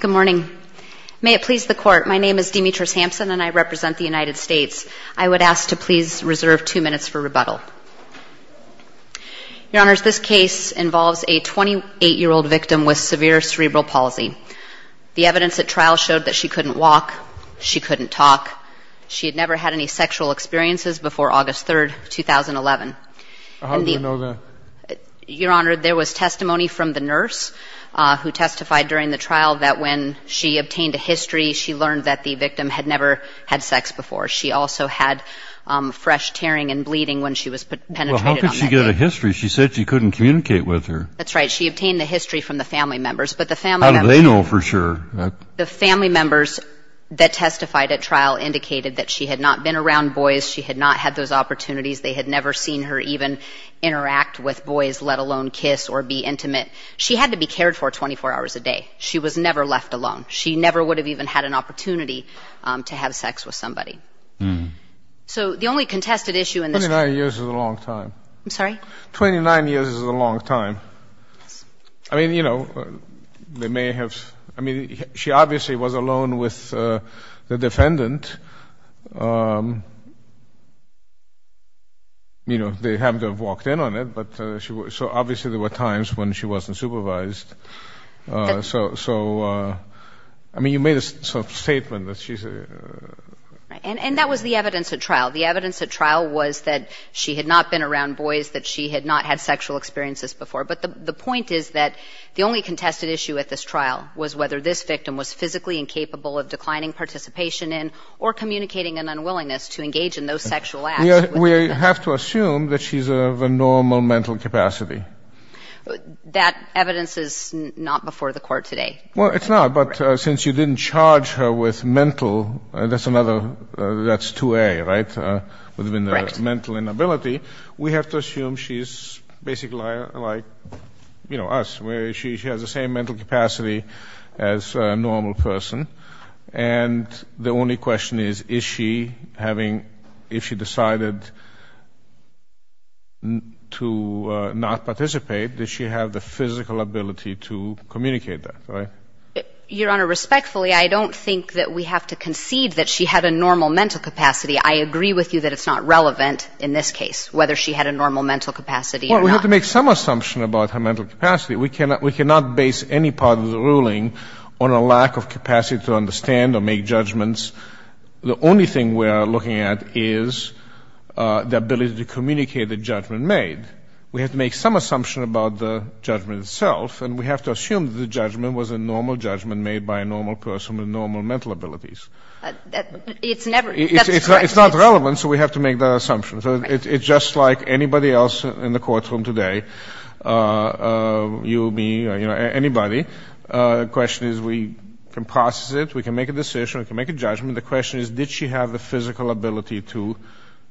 Good morning. May it please the Court, my name is Demetris Hampson and I represent the United States. I would ask to please reserve two minutes for rebuttal. Your Honor, this case involves a 28-year-old victim with severe cerebral palsy. The evidence at trial showed that she couldn't walk, she couldn't talk, she had never had any sexual experiences before August 3, 2011. How do you know that? Your Honor, there was testimony from the nurse who testified during the trial that when she obtained a history, she learned that the victim had never had sex before. She also had fresh tearing and bleeding when she was penetrated on that day. Well, how could she get a history? She said she couldn't communicate with her. That's right. She obtained a history from the family members, but the family members... How do they know for sure? The family members that testified at trial indicated that she had not been around boys, she had not had those opportunities, they had never seen her even interact with boys, let alone kiss or be intimate. She had to be cared for 24 hours a day. She was never left alone. She never would have even had an opportunity to have sex with somebody. So the only contested issue in this... 29 years is a long time. I'm sorry? She obviously was alone with the defendant. You know, they happened to have walked in on it, so obviously there were times when she wasn't supervised. So, I mean, you made a sort of statement that she's... And that was the evidence at trial. The evidence at trial was that she had not been around boys, that she had not had sexual experiences before. But the point is that the only contested issue at this trial was whether this victim was physically incapable of declining participation in or communicating an unwillingness to engage in those sexual acts. We have to assume that she's of a normal mental capacity. That evidence is not before the court today. Well, it's not, but since you didn't charge her with mental... That's another... That's 2A, right? Correct. Mental inability, we have to assume she's basically like, you know, us, where she has the same mental capacity as a normal person. And the only question is, is she having, if she decided to not participate, does she have the physical ability to communicate that, right? Your Honor, respectfully, I don't think that we have to concede that she had a normal mental capacity. I agree with you that it's not relevant in this case, whether she had a normal mental capacity or not. Well, we have to make some assumption about her mental capacity. We cannot base any part of the ruling on a lack of capacity to understand or make judgments. The only thing we are looking at is the ability to communicate the judgment made. We have to make some assumption about the judgment itself, and we have to assume that the judgment was a normal judgment made by a normal person with normal mental abilities. It's never... That's correct. It's not relevant, so we have to make that assumption. So it's just like anybody else in the courtroom today, you, me, you know, anybody. The question is we can process it. We can make a decision. We can make a judgment. The question is, did she have the physical ability to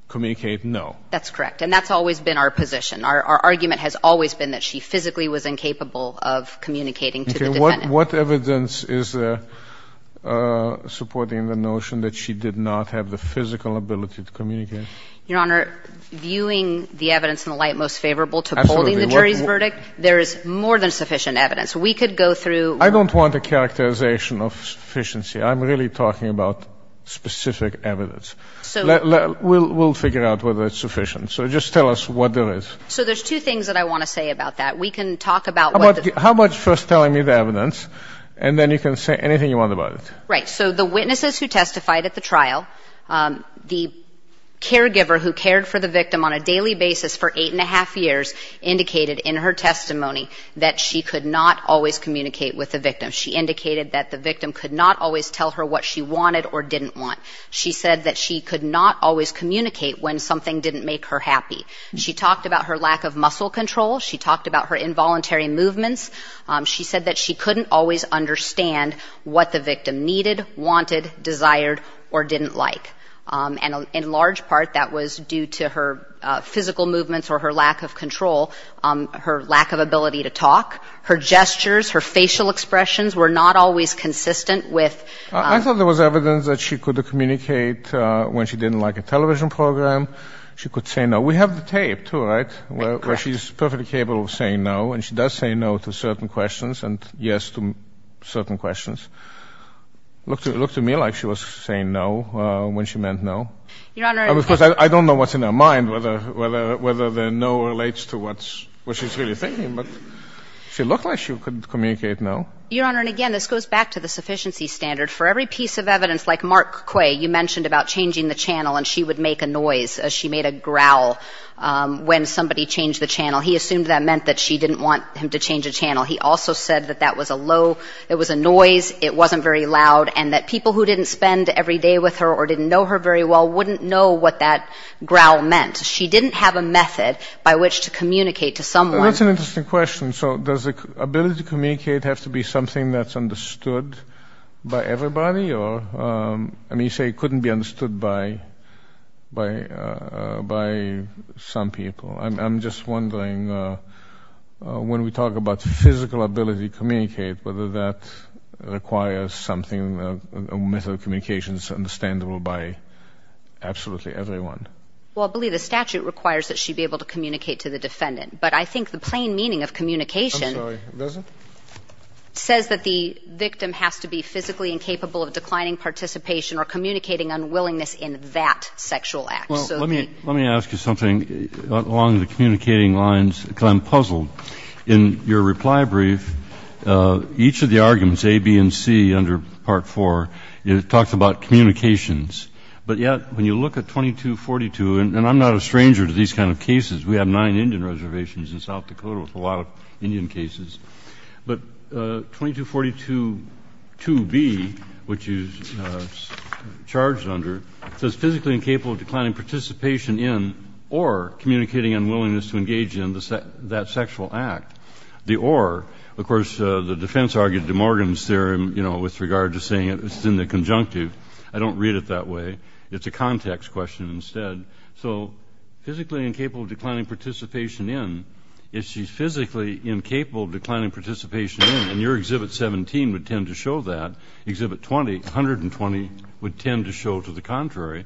communicate? No. That's correct, and that's always been our position. Our argument has always been that she physically was incapable of communicating to the defendant. What evidence is there supporting the notion that she did not have the physical ability to communicate? Your Honor, viewing the evidence in the light most favorable to holding the jury's verdict, there is more than sufficient evidence. We could go through... I don't want a characterization of sufficiency. I'm really talking about specific evidence. So... We'll figure out whether it's sufficient. So just tell us what there is. So there's two things that I want to say about that. We can talk about what the... How about first telling me the evidence, and then you can say anything you want about it. Right. So the witnesses who testified at the trial, the caregiver who cared for the victim on a daily basis for eight and a half years indicated in her testimony that she could not always communicate with the victim. She indicated that the victim could not always tell her what she wanted or didn't want. She said that she could not always communicate when something didn't make her happy. She talked about her lack of muscle control. She talked about her involuntary movements. She said that she couldn't always understand what the victim needed, wanted, desired, or didn't like. And in large part, that was due to her physical movements or her lack of control, her lack of ability to talk. Her gestures, her facial expressions were not always consistent with... I thought there was evidence that she could communicate when she didn't like a television program. She could say no. We have the tape, too, right? Correct. Where she's perfectly capable of saying no, and she does say no to certain questions and yes to certain questions. Looked to me like she was saying no when she meant no. Your Honor... Of course, I don't know what's in her mind, whether the no relates to what she's really thinking, but she looked like she could communicate no. Your Honor, and again, this goes back to the sufficiency standard. For every piece of evidence, like Mark Quay, you mentioned about changing the channel and she would make a noise, she made a growl when somebody changed the channel. He assumed that meant that she didn't want him to change the channel. He also said that that was a low, it was a noise, it wasn't very loud, and that people who didn't spend every day with her or didn't know her very well wouldn't know what that growl meant. She didn't have a method by which to communicate to someone. That's an interesting question. So does the ability to communicate have to be something that's understood by everybody? I mean, you say it couldn't be understood by some people. I'm just wondering, when we talk about physical ability to communicate, whether that requires something, a method of communication that's understandable by absolutely everyone. Well, I believe the statute requires that she be able to communicate to the defendant, but I think the plain meaning of communication... I'm sorry, does it? ...says that the victim has to be physically incapable of declining participation or communicating unwillingness in that sexual act. Well, let me ask you something along the communicating lines. I'm puzzled. In your reply brief, each of the arguments, A, B, and C, under Part 4, it talks about communications. But yet, when you look at 2242, and I'm not a stranger to these kind of cases. We have nine Indian reservations in South Dakota with a lot of Indian cases. But 2242, 2B, which you charged under, says physically incapable of declining participation in or communicating unwillingness to engage in that sexual act. The or, of course, the defense argued DeMorgan's theorem with regard to saying it's in the conjunctive. I don't read it that way. It's a context question instead. So physically incapable of declining participation in, if she's physically incapable of declining participation in, and your Exhibit 17 would tend to show that, Exhibit 20, 120, would tend to show to the contrary,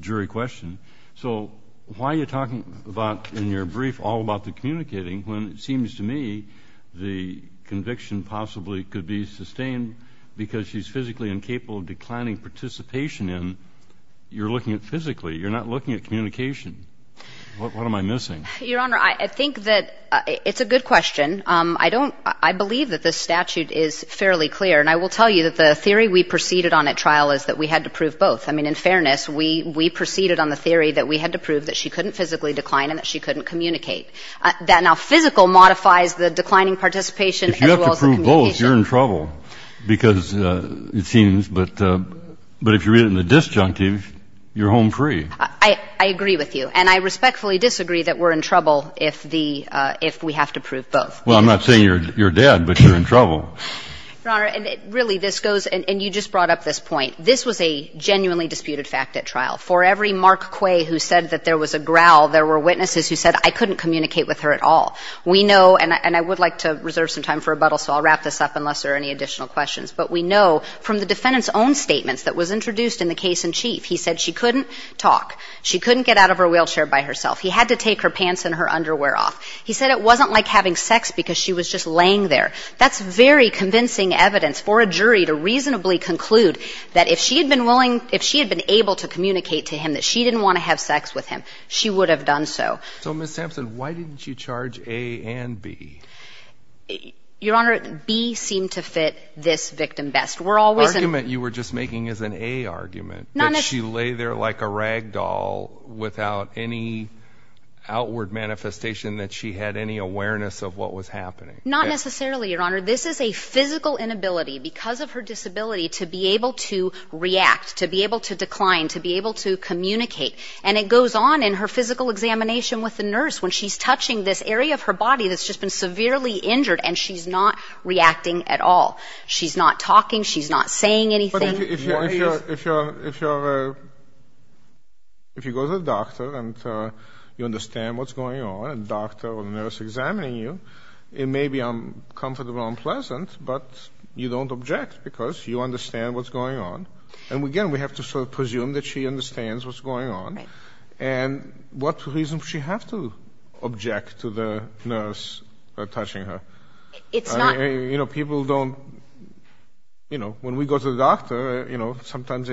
jury question. So why are you talking about in your brief all about the communicating when it seems to me the conviction possibly could be sustained because she's physically incapable of declining participation in? You're looking at physically. You're not looking at communication. What am I missing? Your Honor, I think that it's a good question. I don't ‑‑ I believe that this statute is fairly clear. And I will tell you that the theory we proceeded on at trial is that we had to prove both. I mean, in fairness, we proceeded on the theory that we had to prove that she couldn't physically decline and that she couldn't communicate. That now physical modifies the declining participation as well as the communication. If you have to prove both, you're in trouble because it seems. But if you read it in the disjunctive, you're home free. I agree with you. And I respectfully disagree that we're in trouble if the ‑‑ if we have to prove both. Well, I'm not saying you're dead, but you're in trouble. Your Honor, really, this goes ‑‑ and you just brought up this point. This was a genuinely disputed fact at trial. For every Mark Quay who said that there was a growl, there were witnesses who said I couldn't communicate with her at all. We know, and I would like to reserve some time for rebuttal, so I'll wrap this up unless there are any additional questions. But we know from the defendant's own statements that was introduced in the case in chief, he said she couldn't talk. She couldn't get out of her wheelchair by herself. He had to take her pants and her underwear off. He said it wasn't like having sex because she was just laying there. That's very convincing evidence for a jury to reasonably conclude that if she had been willing ‑‑ if she had been able to communicate to him that she didn't want to have sex with him, she would have done so. So, Ms. Sampson, why didn't you charge A and B? Your Honor, B seemed to fit this victim best. Argument you were just making is an A argument, that she lay there like a rag doll without any outward manifestation that she had any awareness of what was happening. Not necessarily, Your Honor. This is a physical inability because of her disability to be able to react, to be able to decline, to be able to communicate. And it goes on in her physical examination with the nurse when she's touching this area of her body that's just been severely injured and she's not reacting at all. She's not talking. She's not saying anything. But if you're ‑‑ if you go to the doctor and you understand what's going on, and the doctor or the nurse examining you, it may be uncomfortable and unpleasant, but you don't object because you understand what's going on. And, again, we have to sort of presume that she understands what's going on. Right. And what reason does she have to object to the nurse touching her? It's not ‑‑ You know, people don't ‑‑ you know, when we go to the doctor, you know, sometimes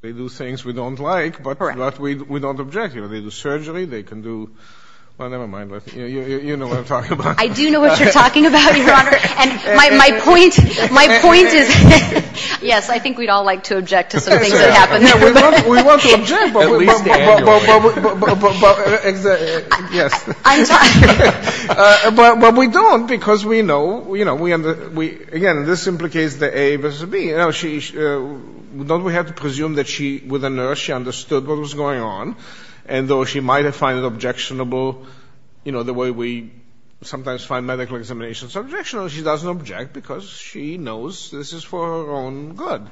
they do things we don't like. Correct. But we don't object. You know, they do surgery. They can do ‑‑ well, never mind. You know what I'm talking about. I do know what you're talking about, Your Honor. And my point is ‑‑ yes, I think we'd all like to object to some things that happen. Yeah, we want to object, but we don't because we know, you know, we understand. Again, this implicates the A versus the B. Don't we have to presume that she, with the nurse, she understood what was going on, and though she might have found it objectionable, you know, the way we sometimes find medical examinations objectionable, she doesn't object because she knows this is for her own good.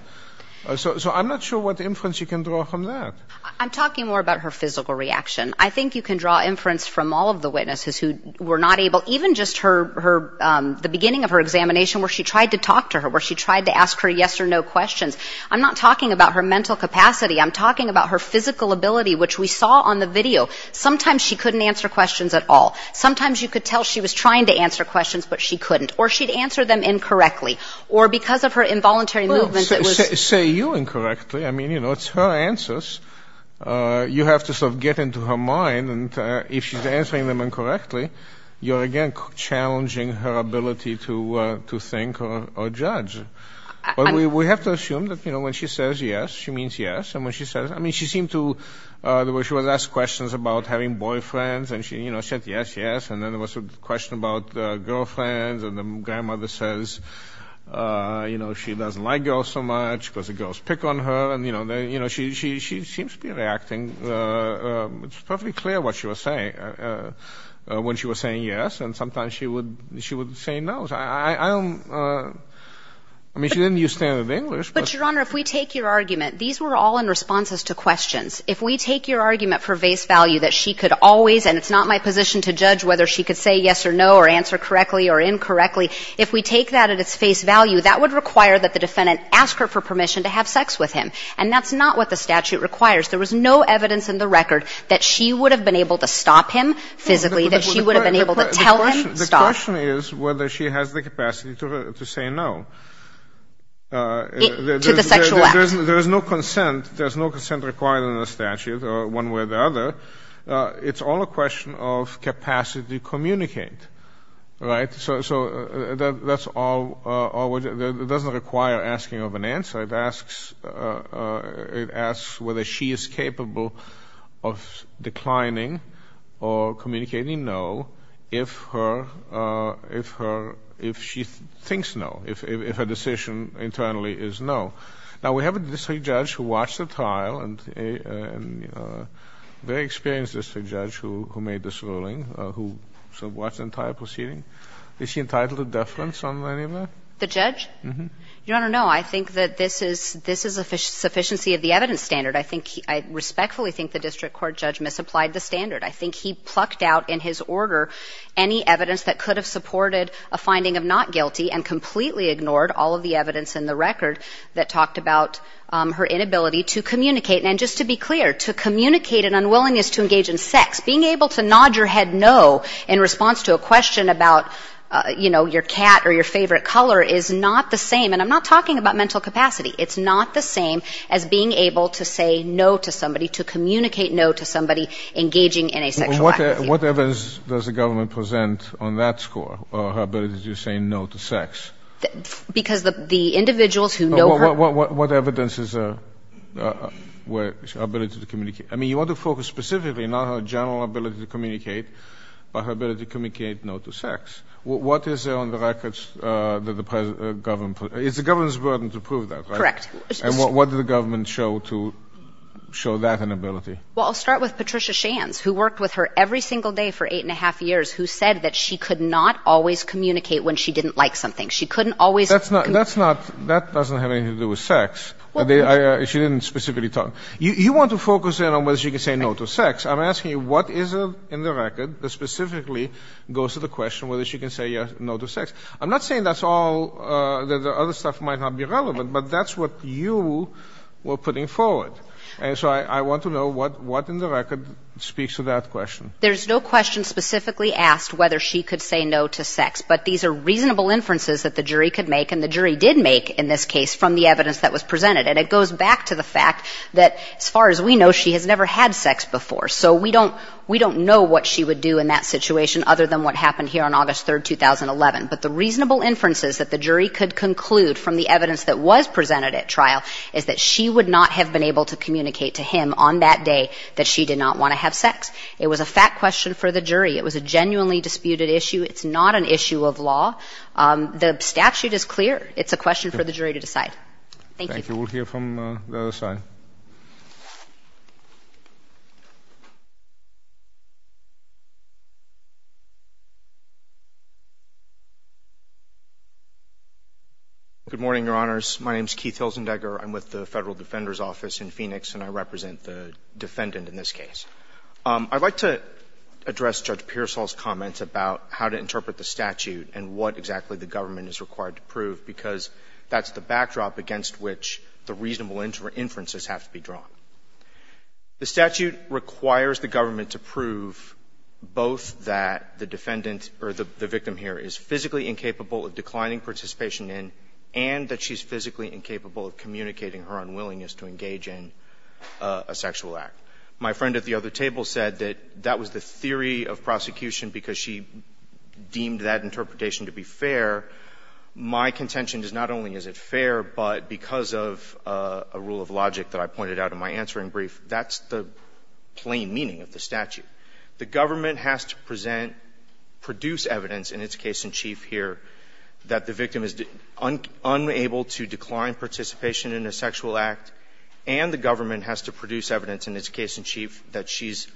So I'm not sure what inference you can draw from that. I'm talking more about her physical reaction. I think you can draw inference from all of the witnesses who were not able, even just her ‑‑ the beginning of her examination where she tried to talk to her, where she tried to ask her yes or no questions. I'm not talking about her mental capacity. I'm talking about her physical ability, which we saw on the video. Sometimes she couldn't answer questions at all. Sometimes you could tell she was trying to answer questions, but she couldn't. Or she'd answer them incorrectly. Or because of her involuntary movement, it was ‑‑ Well, say you incorrectly. I mean, you know, it's her answers. You have to sort of get into her mind, and if she's answering them incorrectly, you're, again, challenging her ability to think or judge. But we have to assume that, you know, when she says yes, she means yes. And when she says ‑‑ I mean, she seemed to ‑‑ she was asked questions about having boyfriends, and she, you know, said yes, yes. And then there was a question about girlfriends, and the grandmother says, you know, she doesn't like girls so much because the girls pick on her. And, you know, she seems to be reacting. It's perfectly clear what she was saying when she was saying yes. And sometimes she would say no. I don't ‑‑ I mean, she didn't use standard English. But, Your Honor, if we take your argument, these were all in response to questions. If we take your argument for vase value that she could always, and it's not my position to judge whether she could say yes or no or answer correctly or incorrectly, if we take that at its face value, that would require that the defendant ask her for permission to have sex with him. And that's not what the statute requires. There was no evidence in the record that she would have been able to stop him physically, that she would have been able to tell him stop. The question is whether she has the capacity to say no. To the sexual act. There is no consent. There is no consent required in the statute, one way or the other. It's all a question of capacity to communicate, right? So that's all ‑‑ it doesn't require asking of an answer. It asks whether she is capable of declining or communicating no if her ‑‑ if she thinks no, if her decision internally is no. Now, we have a district judge who watched the trial and a very experienced district judge who made this ruling, who watched the entire proceeding. Is he entitled to deference on any of that? The judge? Uh-huh. Your Honor, no. I think that this is ‑‑ this is a sufficiency of the evidence standard. I think ‑‑ I respectfully think the district court judge misapplied the standard. I think he plucked out in his order any evidence that could have supported a finding of not guilty and completely ignored all of the evidence in the record that talked about her inability to communicate. And just to be clear, to communicate an unwillingness to engage in sex, being able to nod your head no in response to a question about, you know, your cat or your favorite color is not the same. And I'm not talking about mental capacity. It's not the same as being able to say no to somebody, to communicate no to somebody engaging in a sexual activity. What evidence does the government present on that score, her ability to say no to sex? Because the individuals who know her ‑‑ What evidence is her ability to communicate? I mean, you want to focus specifically not on her general ability to communicate, but her ability to communicate no to sex. What is there on the records that the government ‑‑ it's the government's burden to prove that, right? Correct. And what did the government show to show that inability? Well, I'll start with Patricia Shands, who worked with her every single day for eight and a half years, who said that she could not always communicate when she didn't like something. She couldn't always ‑‑ That's not ‑‑ that doesn't have anything to do with sex. She didn't specifically talk ‑‑ you want to focus in on whether she can say no to sex. I'm asking you what is in the record that specifically goes to the question whether she can say no to sex. I'm not saying that's all, that the other stuff might not be relevant, but that's what you were putting forward. And so I want to know what in the record speaks to that question. There's no question specifically asked whether she could say no to sex, but these are reasonable inferences that the jury could make, and the jury did make in this case, from the evidence that was presented. And it goes back to the fact that, as far as we know, she has never had sex before, so we don't know what she would do in that situation other than what happened here on August 3, 2011. But the reasonable inferences that the jury could conclude from the evidence that was presented at trial is that she would not have been able to communicate to him on that day that she did not want to have sex. It was a fact question for the jury. It was a genuinely disputed issue. It's not an issue of law. The statute is clear. It's a question for the jury to decide. Thank you. Thank you. We'll hear from the other side. Good morning, Your Honors. My name is Keith Hilzendegger. I'm with the Federal Defender's Office in Phoenix, and I represent the defendant in this case. I'd like to address Judge Pearsall's comments about how to interpret the statute and what exactly the government is required to prove, because that's the backdrop against which the reasonable inferences have to be drawn. The statute requires the government to prove both that the defendant or the victim here is physically incapable of declining participation in and that she's physically incapable of communicating her unwillingness to engage in a sexual act. My friend at the other table said that that was the theory of prosecution because she deemed that interpretation to be fair. My contention is not only is it fair, but because of a rule of logic that I pointed out in my answering brief, that's the plain meaning of the statute. The government has to present, produce evidence in its case in chief here that the victim is unable to decline participation in a sexual act, and the government has to produce evidence in its case in chief that she's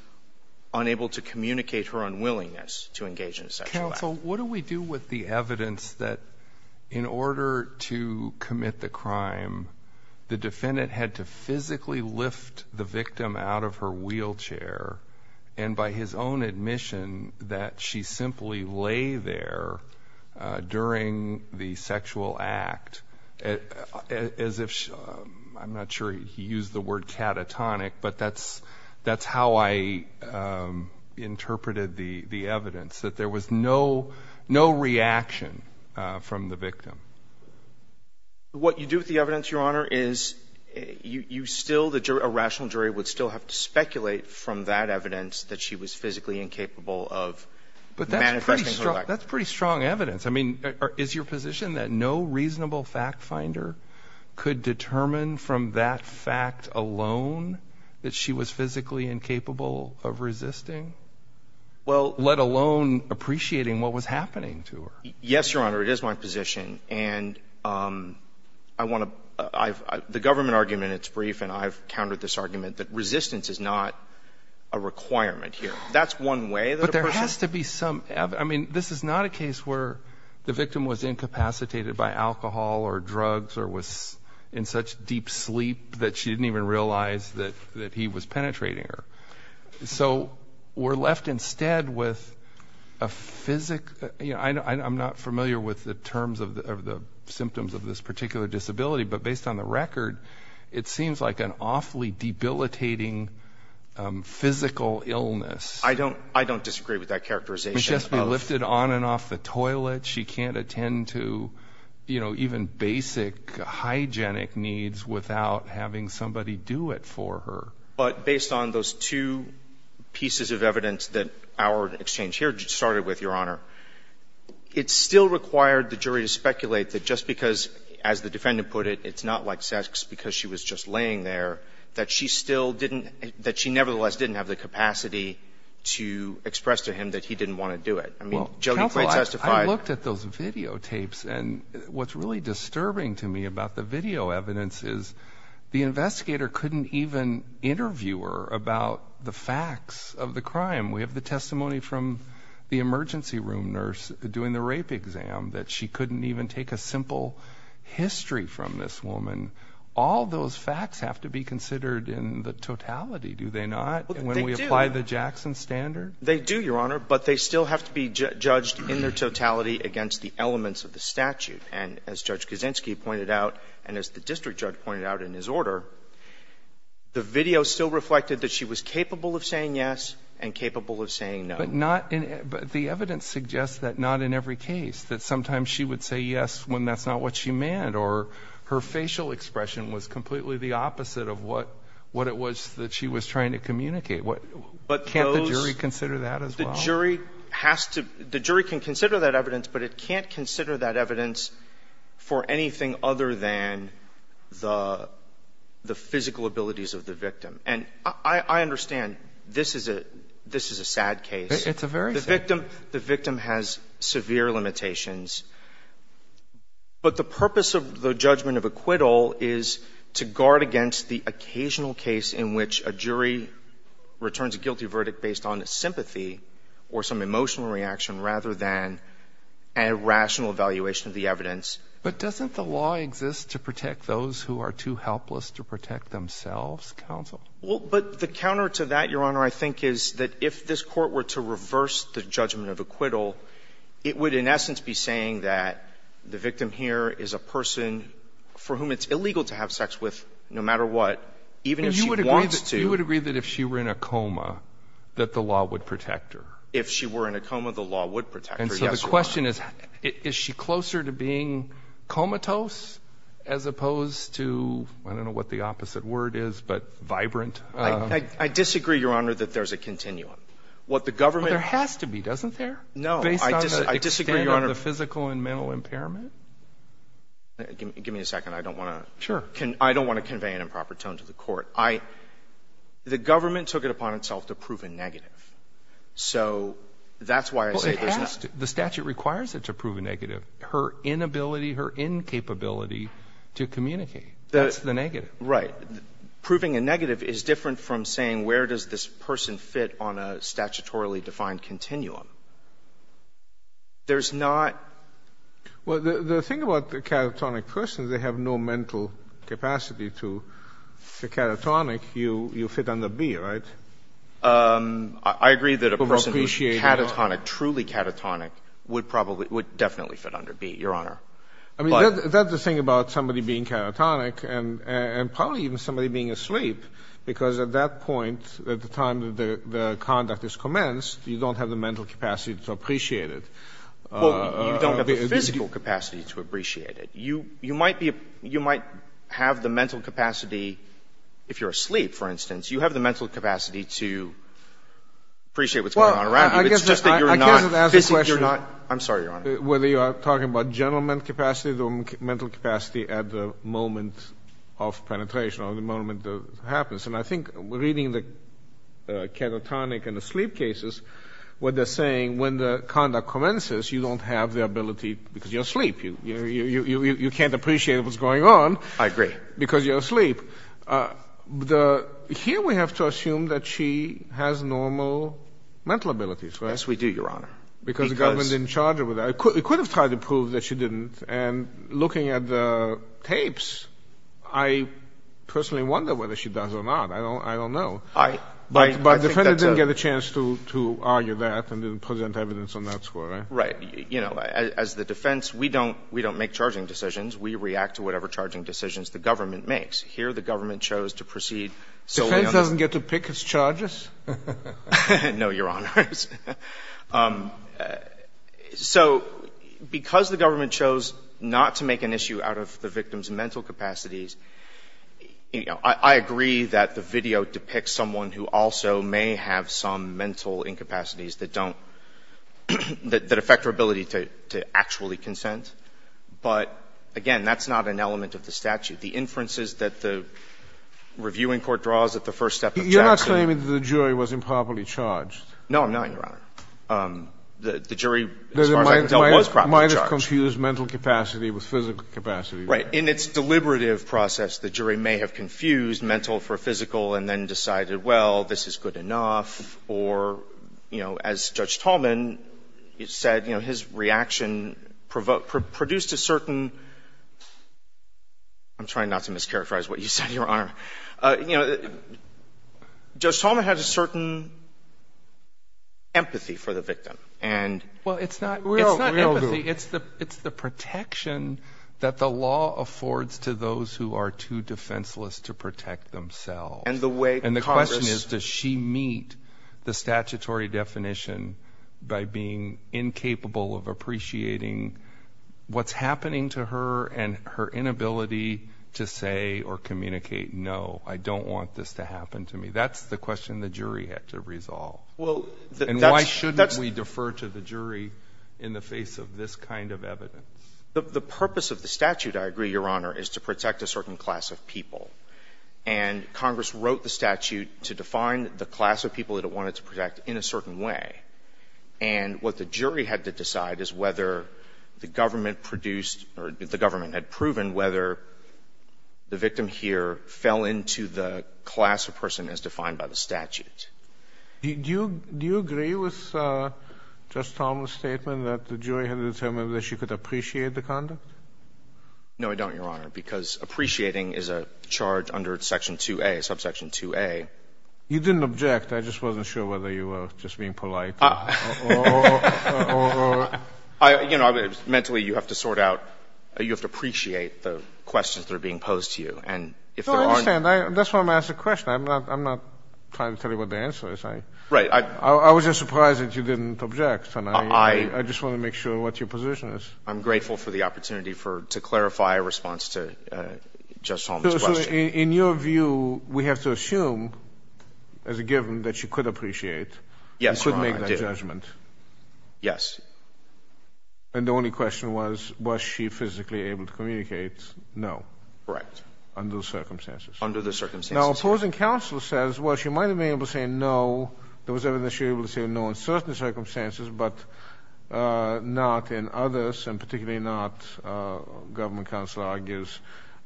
unable to communicate her unwillingness to engage in a sexual act. Counsel, what do we do with the evidence that in order to commit the crime, the and by his own admission that she simply lay there during the sexual act as if, I'm not sure he used the word catatonic, but that's how I interpreted the evidence, that there was no reaction from the victim? What you do with the evidence, Your Honor, is you still, a rational jury would still have to speculate from that evidence that she was physically incapable of manifesting her life. But that's pretty strong evidence. I mean, is your position that no reasonable fact finder could determine from that fact alone that she was physically incapable of resisting, let alone appreciating what was happening to her? Yes, Your Honor, it is my position. And I want to – the government argument, it's brief, and I've countered this before, that resistance is not a requirement here. That's one way that a person – But there has to be some – I mean, this is not a case where the victim was incapacitated by alcohol or drugs or was in such deep sleep that she didn't even realize that he was penetrating her. So we're left instead with a – I'm not familiar with the terms of the symptoms of this particular disability, but based on the record, it seems like an awfully debilitating physical illness. I don't – I don't disagree with that characterization. She has to be lifted on and off the toilet. She can't attend to, you know, even basic hygienic needs without having somebody do it for her. But based on those two pieces of evidence that our exchange here started with, Your Honor, it still required the jury to speculate that just because, as the defendant put it, it's not like sex because she was just laying there, that she still didn't – that she nevertheless didn't have the capacity to express to him that he didn't want to do it. I mean, Jody Clay testified – Well, counsel, I looked at those videotapes, and what's really disturbing to me about the video evidence is the investigator couldn't even interview her about the facts of the crime. We have the testimony from the emergency room nurse doing the rape exam, that she couldn't even take a simple history from this woman. All those facts have to be considered in the totality, do they not, when we apply the Jackson standard? They do, Your Honor, but they still have to be judged in their totality against the elements of the statute. And as Judge Kaczynski pointed out, and as the district judge pointed out in his order, the video still reflected that she was capable of saying yes and capable of saying no. But the evidence suggests that not in every case, that sometimes she would say yes when that's not what she meant, or her facial expression was completely the opposite of what it was that she was trying to communicate. Can't the jury consider that as well? The jury has to – the jury can consider that evidence, but it can't consider that evidence for anything other than the physical abilities of the victim. And I understand this is a sad case. It's a very sad case. The victim has severe limitations. But the purpose of the judgment of acquittal is to guard against the occasional case in which a jury returns a guilty verdict based on sympathy or some emotional reaction rather than a rational evaluation of the evidence. But doesn't the law exist to protect those who are too helpless to protect themselves, counsel? Well, but the counter to that, Your Honor, I think is that if this court were to reverse the judgment of acquittal, it would in essence be saying that the victim here is a person for whom it's illegal to have sex with no matter what, even if she wants to. But you would agree that if she were in a coma that the law would protect her? If she were in a coma, the law would protect her, yes, Your Honor. And so the question is, is she closer to being comatose as opposed to – I don't know what the opposite word is, but vibrant? I disagree, Your Honor, that there's a continuum. What the government – Well, there has to be, doesn't there? No. Based on the extent of the physical and mental impairment? Give me a second. I don't want to – Sure. I don't want to convey an improper tone to the court. I – the government took it upon itself to prove a negative. So that's why I say there's not – Well, it has to. The statute requires it to prove a negative, her inability, her incapability to communicate. That's the negative. Right. Proving a negative is different from saying where does this person fit on a statutorily defined continuum. There's not – Well, the thing about the catatonic person is they have no mental capacity to – the catatonic, you fit under B, right? I agree that a person who's catatonic, truly catatonic, would probably – would definitely fit under B, Your Honor. I mean, that's the thing about somebody being catatonic and probably even somebody being asleep, because at that point, at the time that the conduct is commenced, you don't have the mental capacity to appreciate it. Well, you don't have the physical capacity to appreciate it. You might be – you might have the mental capacity if you're asleep, for instance. You have the mental capacity to appreciate what's going on around you. It's just that you're not – I can't even ask a question. I'm sorry, Your Honor. Whether you are talking about general mental capacity or mental capacity at the moment of penetration or the moment that it happens. And I think reading the catatonic and the sleep cases, what they're saying, when the conduct commences, you don't have the ability because you're asleep. You can't appreciate what's going on. I agree. Because you're asleep. Here we have to assume that she has normal mental abilities, right? Yes, we do, Your Honor. Because the government didn't charge her with that. It could have tried to prove that she didn't. And looking at the tapes, I personally wonder whether she does or not. I don't know. But the defendant didn't get a chance to argue that and didn't present evidence on that score, right? Right. You know, as the defense, we don't make charging decisions. We react to whatever charging decisions the government makes. Here the government chose to proceed solely on the – The defense doesn't get to pick its charges? No, Your Honors. So because the government chose not to make an issue out of the victim's mental capacities, you know, I agree that the video depicts someone who also may have some mental incapacities that don't – that affect her ability to actually consent. But, again, that's not an element of the statute. The inferences that the reviewing court draws at the first step of charging. No, I'm not, Your Honor. The jury, as far as I can tell, was properly charged. Might have confused mental capacity with physical capacity. Right. In its deliberative process, the jury may have confused mental for physical and then decided, well, this is good enough. Or, you know, as Judge Tallman said, you know, his reaction produced a certain – I'm trying not to mischaracterize what you said, Your Honor. You know, Judge Tallman had a certain empathy for the victim and – Well, it's not empathy. It's the protection that the law affords to those who are too defenseless to protect themselves. And the way Congress – And the question is, does she meet the statutory definition by being incapable of appreciating what's happening to her and her inability to say or communicate, no, I don't want this to happen to me? That's the question the jury had to resolve. And why shouldn't we defer to the jury in the face of this kind of evidence? The purpose of the statute, I agree, Your Honor, is to protect a certain class of people. And Congress wrote the statute to define the class of people it wanted to protect in a certain way. And what the jury had to decide is whether the government produced – or the government had proven whether the victim here fell into the class of person as defined by the statute. Do you agree with Judge Tallman's statement that the jury had determined that she could appreciate the conduct? No, I don't, Your Honor, because appreciating is a charge under Section 2A, subsection 2A. You didn't object. I just wasn't sure whether you were just being polite or – You know, mentally you have to sort out – you have to appreciate the questions that are being posed to you. No, I understand. That's why I'm asking the question. I'm not trying to tell you what the answer is. I was just surprised that you didn't object. I just want to make sure what your position is. I'm grateful for the opportunity to clarify a response to Judge Tallman's question. So, in your view, we have to assume, as a given, that she could appreciate and could make that judgment. Yes, Your Honor, I did. Yes. And the only question was, was she physically able to communicate? No. Correct. Under the circumstances. Under the circumstances. Now, opposing counsel says, well, she might have been able to say no. There was evidence that she was able to say no in certain circumstances, but not in others, and particularly not, government counsel argues,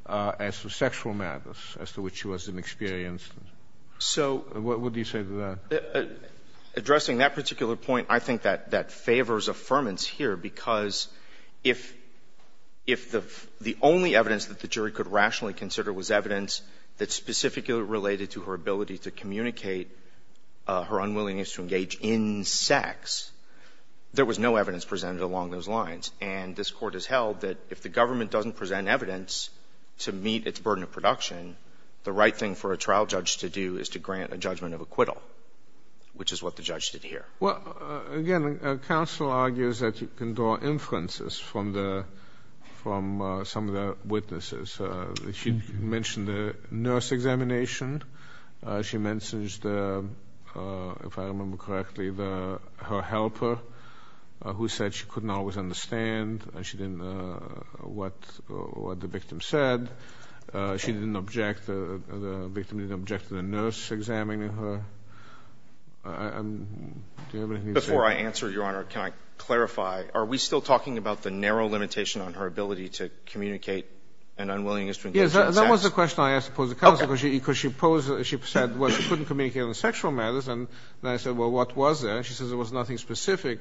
as to sexual matters as to which she wasn't experienced. So – What would you say to that? Addressing that particular point, I think that favors affirmance here, because if the only evidence that the jury could rationally consider was evidence that specifically related to her ability to communicate her unwillingness to engage in sex, there was no evidence presented along those lines. And this Court has held that if the government doesn't present evidence to meet its burden of production, the right thing for a trial judge to do is to grant a judgment of acquittal, which is what the judge did here. Well, again, counsel argues that you can draw inferences from some of the witnesses. She mentioned the nurse examination. She mentioned, if I remember correctly, her helper, who said she couldn't always understand what the victim said. She didn't object, the victim didn't object to the nurse examining her. Do you have anything to say? Before I answer, Your Honor, can I clarify? Are we still talking about the narrow limitation on her ability to communicate an unwillingness to engage in sex? That was the question I asked the counsel, because she posed, she said, well, she couldn't communicate on sexual matters. And then I said, well, what was that? And she says there was nothing specific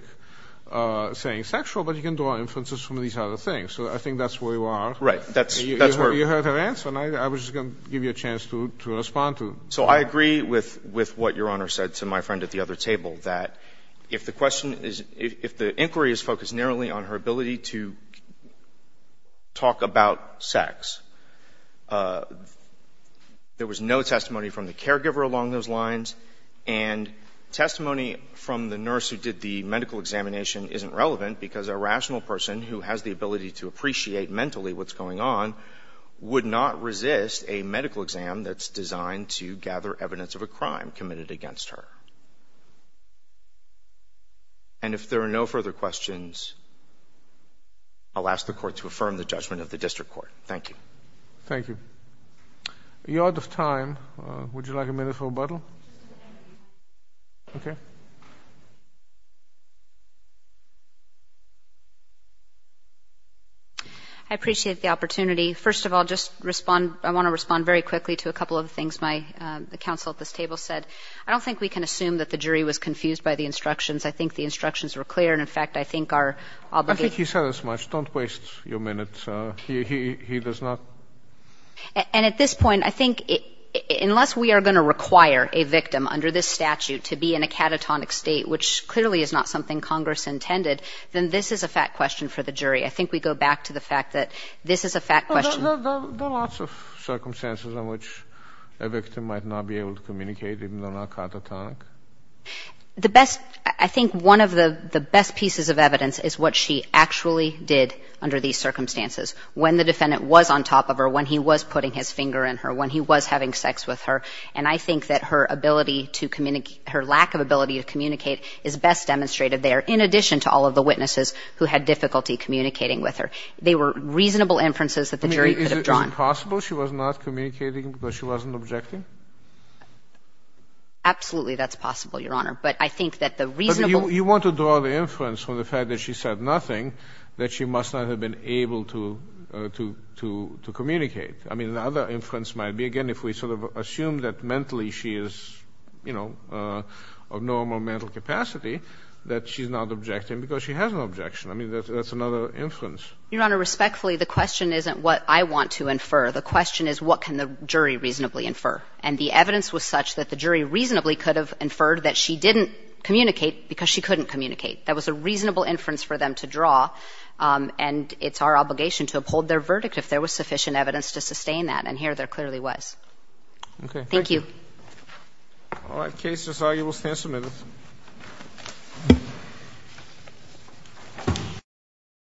saying sexual, but you can draw inferences from these other things. So I think that's where you are. Right. That's where you are. You heard her answer, and I was just going to give you a chance to respond to it. So I agree with what Your Honor said to my friend at the other table, that if the question is focused narrowly on her ability to talk about sex, there was no testimony from the caregiver along those lines, and testimony from the nurse who did the medical examination isn't relevant, because a rational person who has the ability to appreciate mentally what's going on would not resist a medical exam that's designed to gather evidence of a crime committed against her. And if there are no further questions, I'll ask the Court to affirm the judgment of the District Court. Thank you. Thank you. You're out of time. Would you like a minute for rebuttal? Okay. I appreciate the opportunity. First of all, just respond, I want to respond very quickly to a couple of things my counsel at this table said. I don't think we can assume that the jury was confused by the instructions. I think the instructions were clear, and, in fact, I think our obligation... I think he said as much. Don't waste your minutes. He does not... And at this point, I think unless we are going to require a victim under this statute to be in a catatonic state, which clearly is not something Congress intended, then this is a fact question for the jury. I think we go back to the fact that this is a fact question. There are lots of circumstances in which a victim might not be able to communicate even though they're not catatonic. The best, I think one of the best pieces of evidence is what she actually did under these circumstances, when the defendant was on top of her, when he was putting his finger in her, when he was having sex with her. And I think that her ability to communicate, her lack of ability to communicate is best demonstrated there, in addition to all of the witnesses who had difficulty communicating with her. They were reasonable inferences that the jury could have drawn. Is it possible she was not communicating because she wasn't objecting? Absolutely, that's possible, Your Honor. But I think that the reasonable... But you want to draw the inference from the fact that she said nothing that she must not have been able to communicate. I mean, another inference might be, again, if we sort of assume that mentally she is, you know, of normal mental capacity, that she's not objecting because she has an objection. I mean, that's another inference. Your Honor, respectfully, the question isn't what I want to infer. The question is what can the jury reasonably infer. And the evidence was such that the jury reasonably could have inferred that she didn't communicate because she couldn't communicate. That was a reasonable inference for them to draw, and it's our obligation to uphold their verdict if there was sufficient evidence to sustain that, and here there clearly was. Okay. Thank you. All right. Case is argued. We'll stand submitted. Thank you.